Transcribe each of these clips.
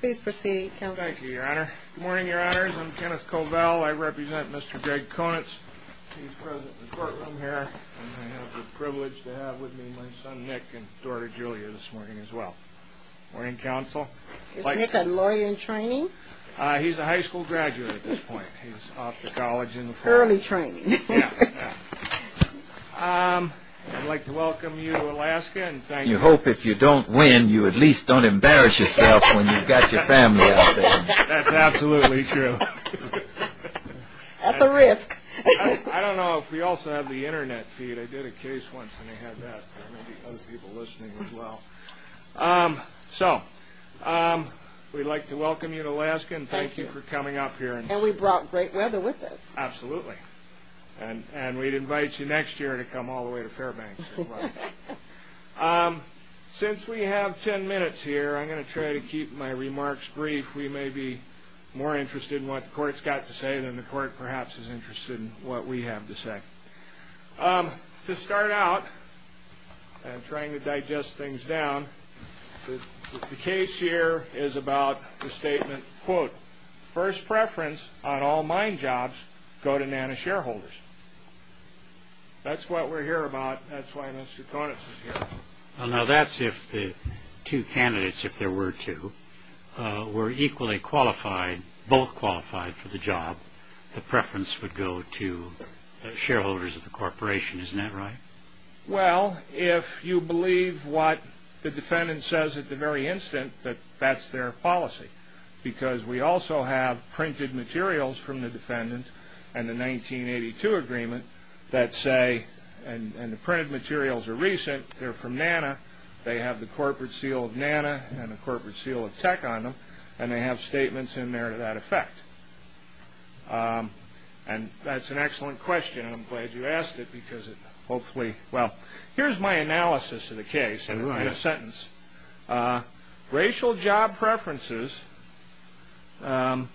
Please proceed, Counselor. Thank you, Your Honor. Good morning, Your Honors. I'm Kenneth Covell. I represent Mr. Gregg Conitz. He's present in the courtroom here, and I have the privilege to have with me my son Nick and daughter Julia this morning as well. Morning, Counsel. Is Nick a lawyer in training? He's a high school graduate at this point. He's off to college in the fall. Early training. Yeah, yeah. I'd like to welcome you to Alaska and thank you. And you hope if you don't win, you at least don't embarrass yourself when you've got your family out there. That's absolutely true. That's a risk. I don't know if we also have the internet feed. I did a case once and they had that, so there may be other people listening as well. So we'd like to welcome you to Alaska and thank you for coming up here. And we brought great weather with us. Absolutely. And we'd invite you next year to come all the way to Fairbanks. Since we have ten minutes here, I'm going to try to keep my remarks brief. We may be more interested in what the court's got to say than the court perhaps is interested in what we have to say. To start out, and trying to digest things down, the case here is about the statement, quote, first preference on all mine jobs go to NANA shareholders. That's what we're here about. That's why Mr. Conant is here. Now that's if the two candidates, if there were two, were equally qualified, both qualified for the job, the preference would go to the shareholders of the corporation. Isn't that right? Well, if you believe what the defendant says at the very instant, that that's their policy. Because we also have printed materials from the defendant and the 1982 agreement that say, and the printed materials are recent, they're from NANA, they have the corporate seal of NANA and the corporate seal of tech on them, and they have statements in there to that effect. And that's an excellent question. I'm glad you asked it because it hopefully, well, here's my analysis of the case in a sentence. Racial job preferences, I'm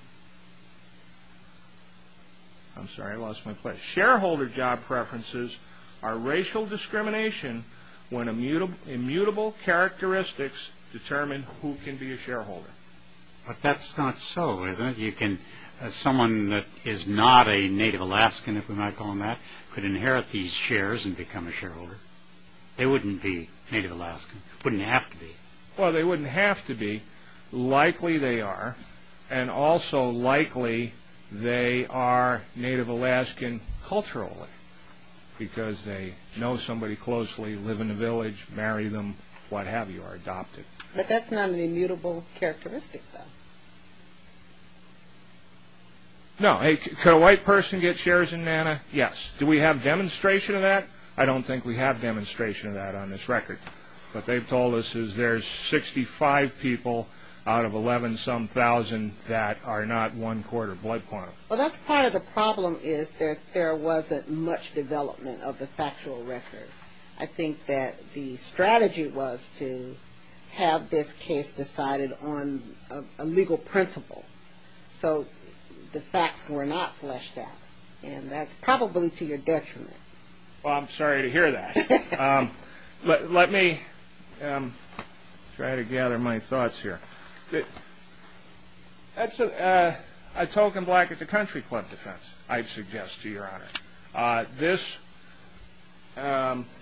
sorry, I lost my place. Shareholder job preferences are racial discrimination when immutable characteristics determine who can be a shareholder. But that's not so, is it? You can, as someone that is not a native Alaskan, if we're not calling that, could inherit these shares and become a shareholder. They wouldn't be native Alaskan. Wouldn't have to be. Well, they wouldn't have to be. Likely they are, and also likely they are native Alaskan culturally because they know somebody closely, live in a village, marry them, what have you, are adopted. But that's not an immutable characteristic, though. No. Could a white person get shares in NANA? Yes. Do we have demonstration of that? I don't think we have demonstration of that on this record. What they've told us is there's 65 people out of 11-some thousand that are not one-quarter blood quantum. Well, that's part of the problem is that there wasn't much development of the factual record. I think that the strategy was to have this case decided on a legal principle, so the facts were not fleshed out, and that's probably to your detriment. Well, I'm sorry to hear that. Let me try to gather my thoughts here. That's a token black-at-the-country club defense, I'd suggest, to your honor.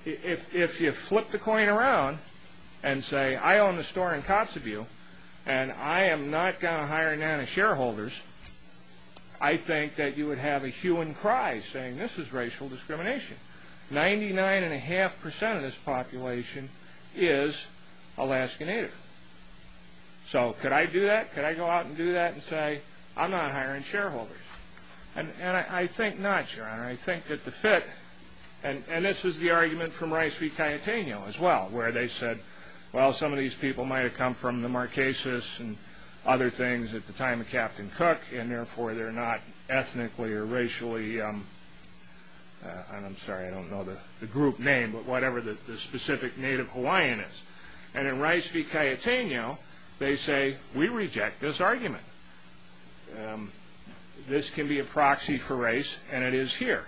If you flip the coin around and say, I own the store in Kotzebue, and I am not going to hire NANA shareholders, I think that you would have a hue and cry saying this is racial discrimination. Ninety-nine and a half percent of this population is Alaskan native. So could I do that? Could I go out and do that and say, I'm not hiring shareholders? And I think not, your honor. I think that the fit, and this is the argument from Rice v. Cayetano as well, where they said, well, some of these people might have come from the Marquesas and other things at the time of Captain Cook, and therefore they're not ethnically or racially, and I'm sorry, I don't know the group name, but whatever the specific native Hawaiian is. And in Rice v. Cayetano, they say, we reject this argument. This can be a proxy for race, and it is here.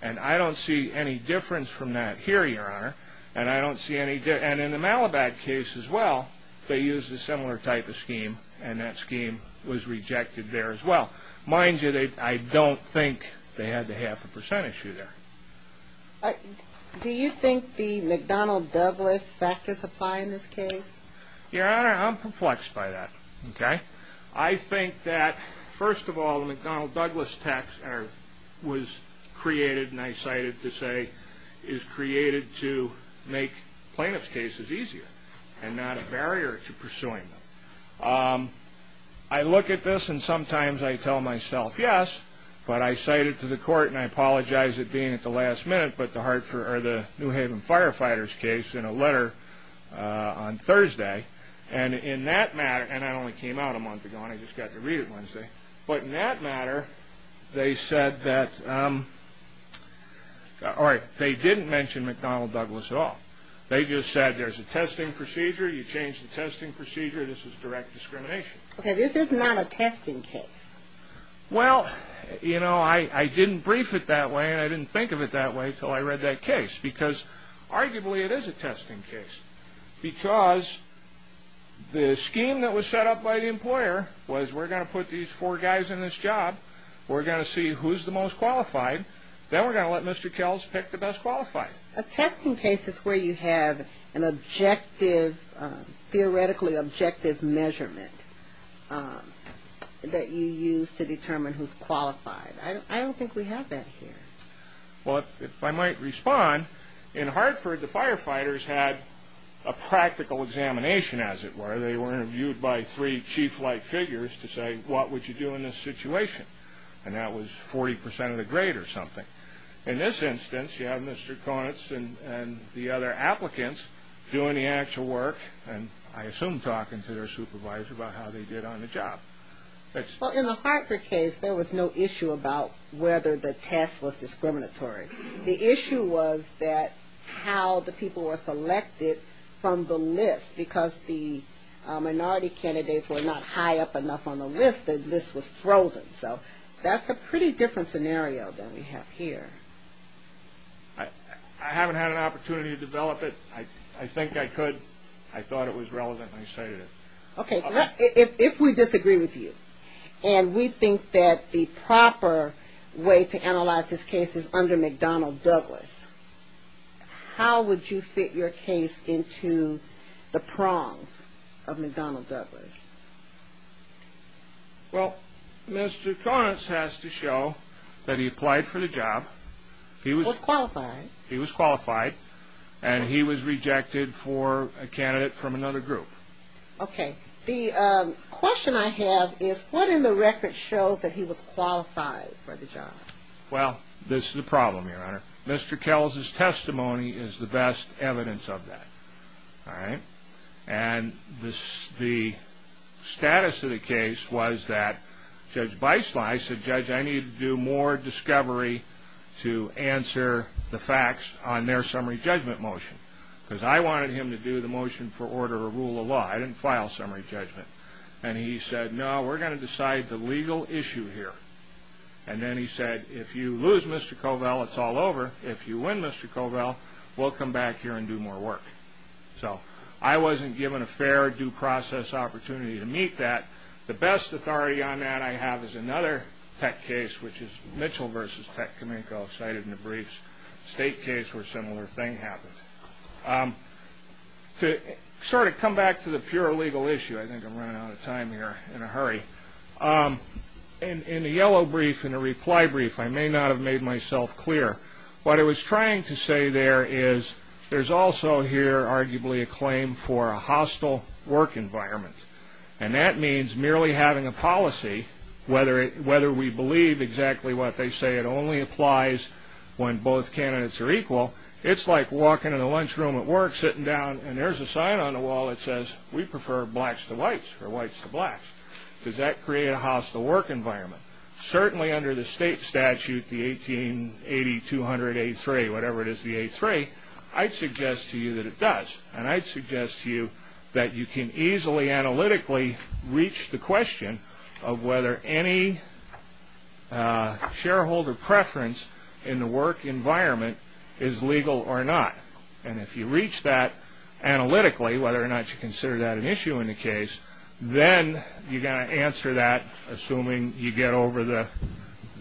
And I don't see any difference from that here, your honor. And in the Malabat case as well, they used a similar type of scheme, and that scheme was rejected there as well. Mind you, I don't think they had the half a percent issue there. Do you think the McDonnell-Douglas factors apply in this case? Your honor, I'm perplexed by that. I think that, first of all, the McDonnell-Douglas tax was created, and I cite it to say is created to make plaintiff's cases easier and not a barrier to pursuing them. I look at this, and sometimes I tell myself, yes, but I cite it to the court, and I apologize it being at the last minute, but the New Haven Firefighter's case in a letter on Thursday, and in that matter, and that only came out a month ago, and I just got to read it Wednesday, but in that matter, they said that, or they didn't mention McDonnell-Douglas at all. They just said there's a testing procedure, you change the testing procedure, this is direct discrimination. Okay, this is not a testing case. Well, you know, I didn't brief it that way, and I didn't think of it that way until I read that case, because arguably it is a testing case, because the scheme that was set up by the employer was we're going to put these four guys in this job, we're going to see who's the most qualified, then we're going to let Mr. Kells pick the best qualified. A testing case is where you have an objective, theoretically objective measurement that you use to determine who's qualified. I don't think we have that here. Well, if I might respond, in Hartford, the firefighters had a practical examination, as it were. They were interviewed by three chief-like figures to say, what would you do in this situation? And that was 40% of the grade or something. In this instance, you have Mr. Konitz and the other applicants doing the actual work, and I assume talking to their supervisor about how they did on the job. Well, in the Hartford case, there was no issue about whether the test was discriminatory. The issue was that how the people were selected from the list, because the minority candidates were not high up enough on the list, the list was frozen. So that's a pretty different scenario than we have here. I haven't had an opportunity to develop it. I think I could. I thought it was relevant, and I stated it. Okay, if we disagree with you, and we think that the proper way to analyze this case is under McDonnell Douglas, how would you fit your case into the prongs of McDonnell Douglas? Well, Mr. Konitz has to show that he applied for the job. He was qualified. He was qualified, and he was rejected for a candidate from another group. Okay. The question I have is, what in the record shows that he was qualified for the job? Well, this is the problem, Your Honor. Mr. Kels' testimony is the best evidence of that. All right? And the status of the case was that Judge Beisle said, Judge, I need to do more discovery to answer the facts on their summary judgment motion, because I wanted him to do the motion for order to rule the law. I didn't file summary judgment. And he said, No, we're going to decide the legal issue here. And then he said, If you lose, Mr. Covell, it's all over. If you win, Mr. Covell, we'll come back here and do more work. So I wasn't given a fair due process opportunity to meet that. The best authority on that I have is another tech case, which is Mitchell v. Techcomico cited in the briefs, a state case where a similar thing happened. To sort of come back to the pure legal issue, I think I'm running out of time here in a hurry. In the yellow brief, in the reply brief, I may not have made myself clear. What I was trying to say there is there's also here arguably a claim for a hostile work environment. And that means merely having a policy, whether we believe exactly what they say, it only applies when both candidates are equal. It's like walking in the lunchroom at work, sitting down, and there's a sign on the wall that says, We prefer blacks to whites or whites to blacks. Does that create a hostile work environment? Certainly under the state statute, the 1880-200-A3, whatever it is, the A3, I'd suggest to you that it does. And I'd suggest to you that you can easily analytically reach the question of whether any shareholder preference in the work environment is legal or not. And if you reach that analytically, whether or not you consider that an issue in the case, then you've got to answer that, assuming you get over the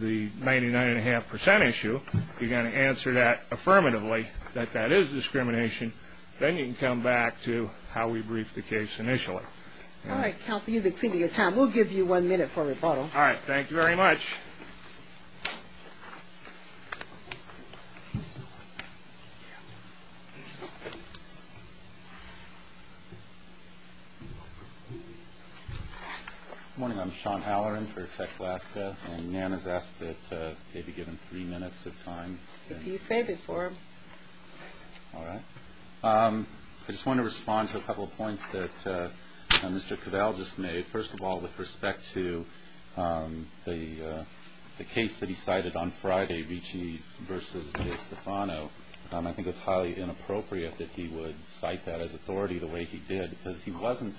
99.5% issue, you've got to answer that affirmatively that that is discrimination. Then you can come back to how we briefed the case initially. All right, Counsel, you've exceeded your time. We'll give you one minute for a rebuttal. All right, thank you very much. Good morning. I'm Sean Halloran for Tech Alaska. And Nan has asked that they be given three minutes of time. If you save it for him. All right. I just want to respond to a couple of points that Mr. Cavell just made. First of all, with respect to the case that he cited on Friday, Ricci v. DeStefano, I think it's highly inappropriate that he would cite that as authority the way he did because he wasn't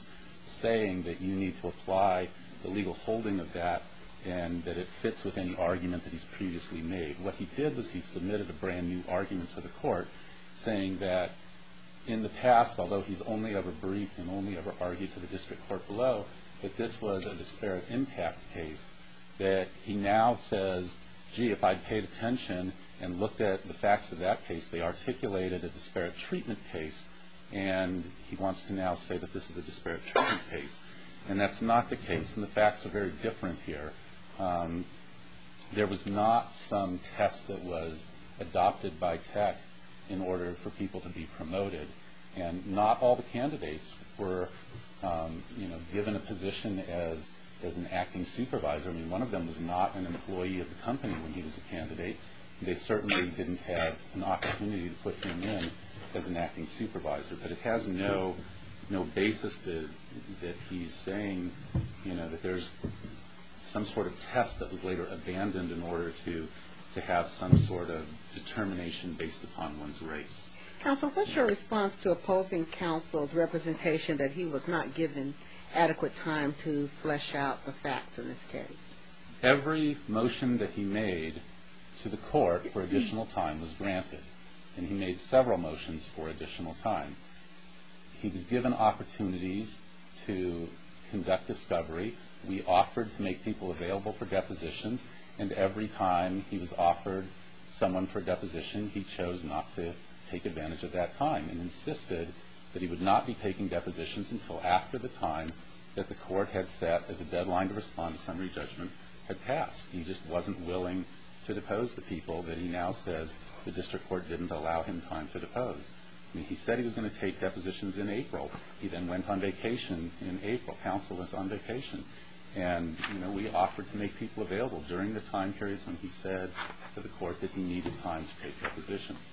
saying that you need to apply the legal holding of that and that it fits with any argument that he's previously made. What he did was he submitted a brand-new argument to the court saying that in the past, although he's only ever briefed and only ever argued to the district court below, that this was a disparate impact case that he now says, gee, if I'd paid attention and looked at the facts of that case, they articulated a disparate treatment case. And he wants to now say that this is a disparate treatment case. And that's not the case, and the facts are very different here. There was not some test that was adopted by Tech in order for people to be promoted. And not all the candidates were given a position as an acting supervisor. I mean, one of them was not an employee of the company when he was a candidate. They certainly didn't have an opportunity to put him in as an acting supervisor. But it has no basis that he's saying that there's some sort of test that was later abandoned in order to have some sort of determination based upon one's race. Counsel, what's your response to opposing counsel's representation that he was not given adequate time to flesh out the facts in this case? Every motion that he made to the court for additional time was granted. And he made several motions for additional time. He was given opportunities to conduct discovery. We offered to make people available for depositions. And every time he was offered someone for a deposition, he chose not to take advantage of that time and insisted that he would not be taking depositions until after the time that the court had set as a deadline to respond to summary judgment had passed. He just wasn't willing to depose the people that he now says the district court didn't allow him time to depose. I mean, he said he was going to take depositions in April. He then went on vacation in April. Counsel was on vacation. And, you know, we offered to make people available during the time periods when he said to the court that he needed time to take depositions.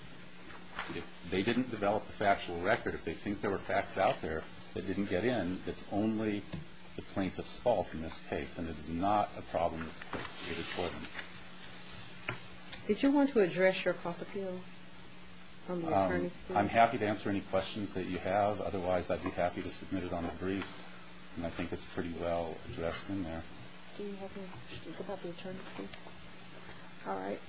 If they didn't develop a factual record, if they think there were facts out there that didn't get in, it's only the plaintiff's fault in this case, and it is not a problem with the court. Did you want to address your cost appeal on the attorney's case? I'm happy to answer any questions that you have. Otherwise, I'd be happy to submit it on the briefs. And I think it's pretty well addressed in there. Do you have any questions about the attorney's case? All right.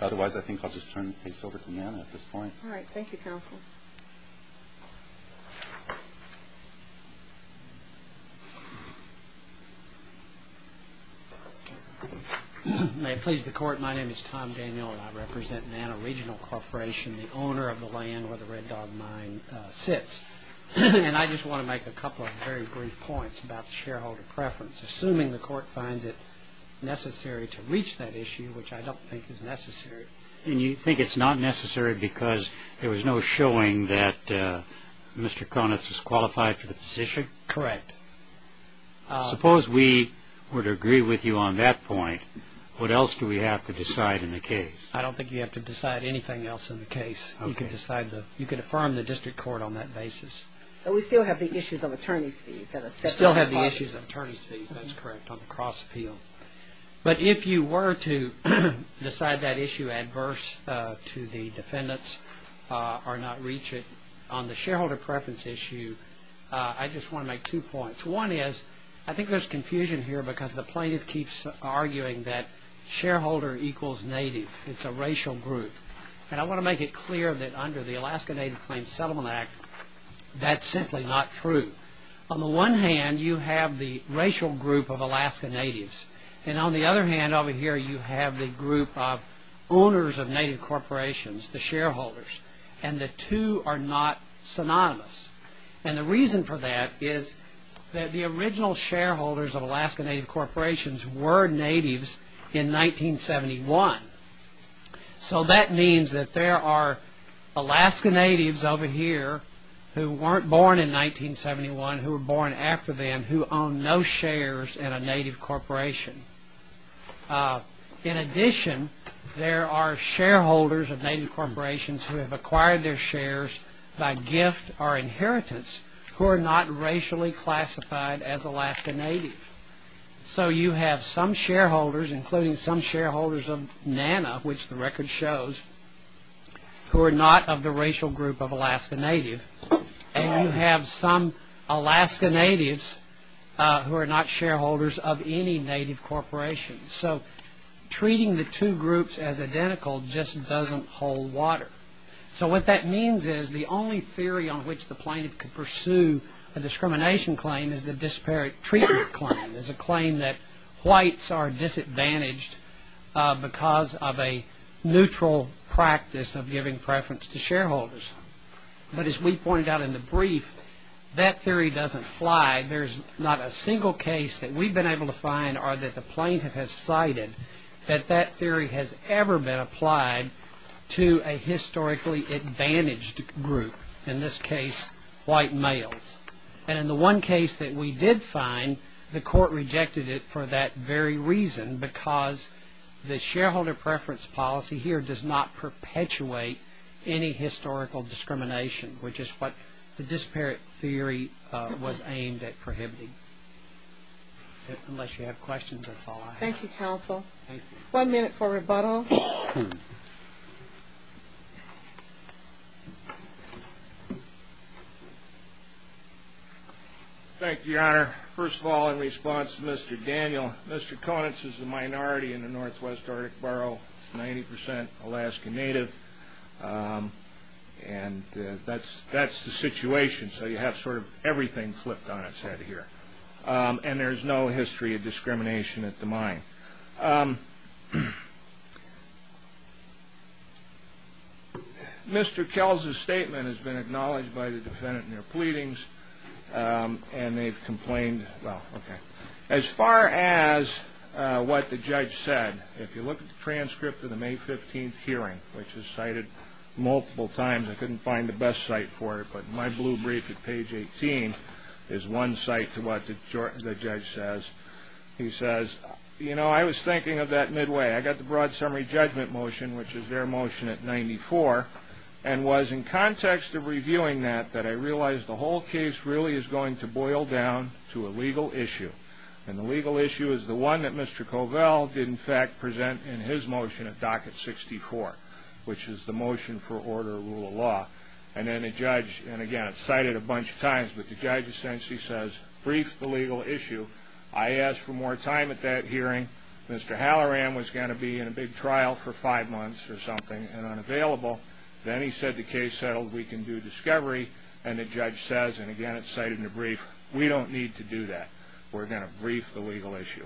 Otherwise, I think I'll just turn the case over to Nana at this point. All right. Thank you, counsel. May it please the court, my name is Tom Daniel, and I represent Nana Regional Corporation, the owner of the land where the Red Dog Mine sits. And I just want to make a couple of very brief points about the shareholder preference. Assuming the court finds it necessary to reach that issue, which I don't think is necessary. And you think it's not necessary because there was no showing that Mr. Konitz was qualified for the position? Correct. Suppose we were to agree with you on that point, what else do we have to decide in the case? I don't think you have to decide anything else in the case. Okay. You can affirm the district court on that basis. But we still have the issues of attorney's fees. We still have the issues of attorney's fees, that's correct, on the cross appeal. But if you were to decide that issue adverse to the defendants or not reach it, on the shareholder preference issue, I just want to make two points. One is, I think there's confusion here because the plaintiff keeps arguing that shareholder equals native. It's a racial group. And I want to make it clear that under the Alaska Native Claims Settlement Act, that's simply not true. On the one hand, you have the racial group of Alaska natives. And on the other hand over here, you have the group of owners of native corporations, the shareholders. And the two are not synonymous. And the reason for that is that the original shareholders of Alaska native corporations were natives in 1971. So that means that there are Alaska natives over here who weren't born in 1971, who were born after then, who own no shares in a native corporation. In addition, there are shareholders of native corporations who have acquired their shares by gift or inheritance who are not racially classified as Alaska native. So you have some shareholders, including some shareholders of NANA, which the record shows, who are not of the racial group of Alaska native. And you have some Alaska natives who are not shareholders of any native corporation. So treating the two groups as identical just doesn't hold water. So what that means is the only theory on which the plaintiff can pursue a discrimination claim is the disparate treatment claim, is a claim that whites are disadvantaged because of a neutral practice of giving preference to shareholders. But as we pointed out in the brief, that theory doesn't fly. There's not a single case that we've been able to find or that the plaintiff has cited that that theory has ever been applied to a historically advantaged group, in this case white males. And in the one case that we did find, the court rejected it for that very reason because the shareholder preference policy here does not perpetuate any historical discrimination, which is what the disparate theory was aimed at prohibiting. Unless you have questions, that's all I have. Thank you, counsel. Thank you. One minute for rebuttal. Thank you, Your Honor. First of all, in response to Mr. Daniel, Mr. Konitz is a minority in the northwest Arctic borough, 90 percent Alaska native, and that's the situation. So you have sort of everything flipped on its head here. And there's no history of discrimination at the mine. Mr. Kelz's statement has been acknowledged by the defendant in their pleadings, and they've complained. Well, okay. As far as what the judge said, if you look at the transcript of the May 15th hearing, which is cited multiple times, I couldn't find the best site for it, but my blue brief at page 18 is one site to what the judge says. He says, you know, I was thinking of that midway. I got the broad summary judgment motion, which is their motion at 94, and was in context of reviewing that that I realized the whole case really is going to boil down to a legal issue. And the legal issue is the one that Mr. Covell did, in fact, present in his motion at docket 64, which is the motion for order of rule of law. And then the judge, and again, it's cited a bunch of times, but the judge essentially says, brief the legal issue. I asked for more time at that hearing. Mr. Halloran was going to be in a big trial for five months or something and unavailable. Then he said the case settled. We can do discovery. And the judge says, and again, it's cited in the brief, we don't need to do that. We're going to brief the legal issue.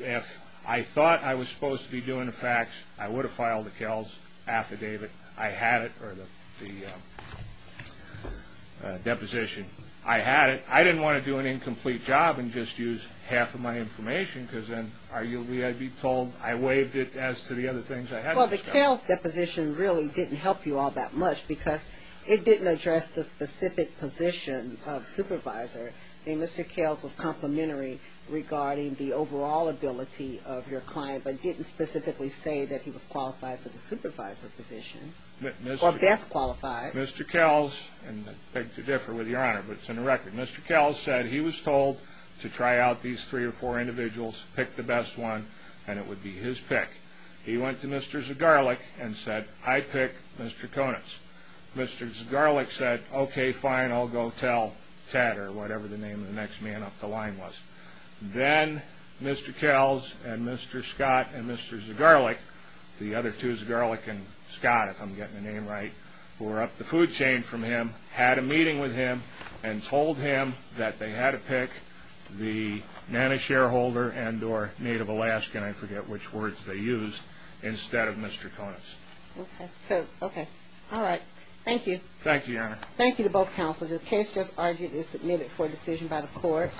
If I thought I was supposed to be doing the facts, I would have filed the Kelz affidavit. I had it for the deposition. I had it. I didn't want to do an incomplete job and just use half of my information because then arguably I'd be told I waived it as to the other things I had. Well, the Kelz deposition really didn't help you all that much because it didn't address the specific position of supervisor. I mean, Mr. Kelz was complimentary regarding the overall ability of your client but didn't specifically say that he was qualified for the supervisor position or best qualified. Mr. Kelz, and I beg to differ with Your Honor, but it's in the record. Mr. Kelz said he was told to try out these three or four individuals, pick the best one, and it would be his pick. He went to Mr. Zagarlik and said, I pick Mr. Konitz. Mr. Zagarlik said, okay, fine, I'll go tell Ted or whatever the name of the next man up the line was. Then Mr. Kelz and Mr. Scott and Mr. Zagarlik, the other two, Zagarlik and Scott, if I'm getting the name right, were up the food chain from him, had a meeting with him, and told him that they had to pick the NANA shareholder and or Native Alaskan, I forget which words they used, instead of Mr. Konitz. Okay. So, okay. Thank you. Thank you, Your Honor. Thank you to both counselors. The case just argued is submitted for decision by the court.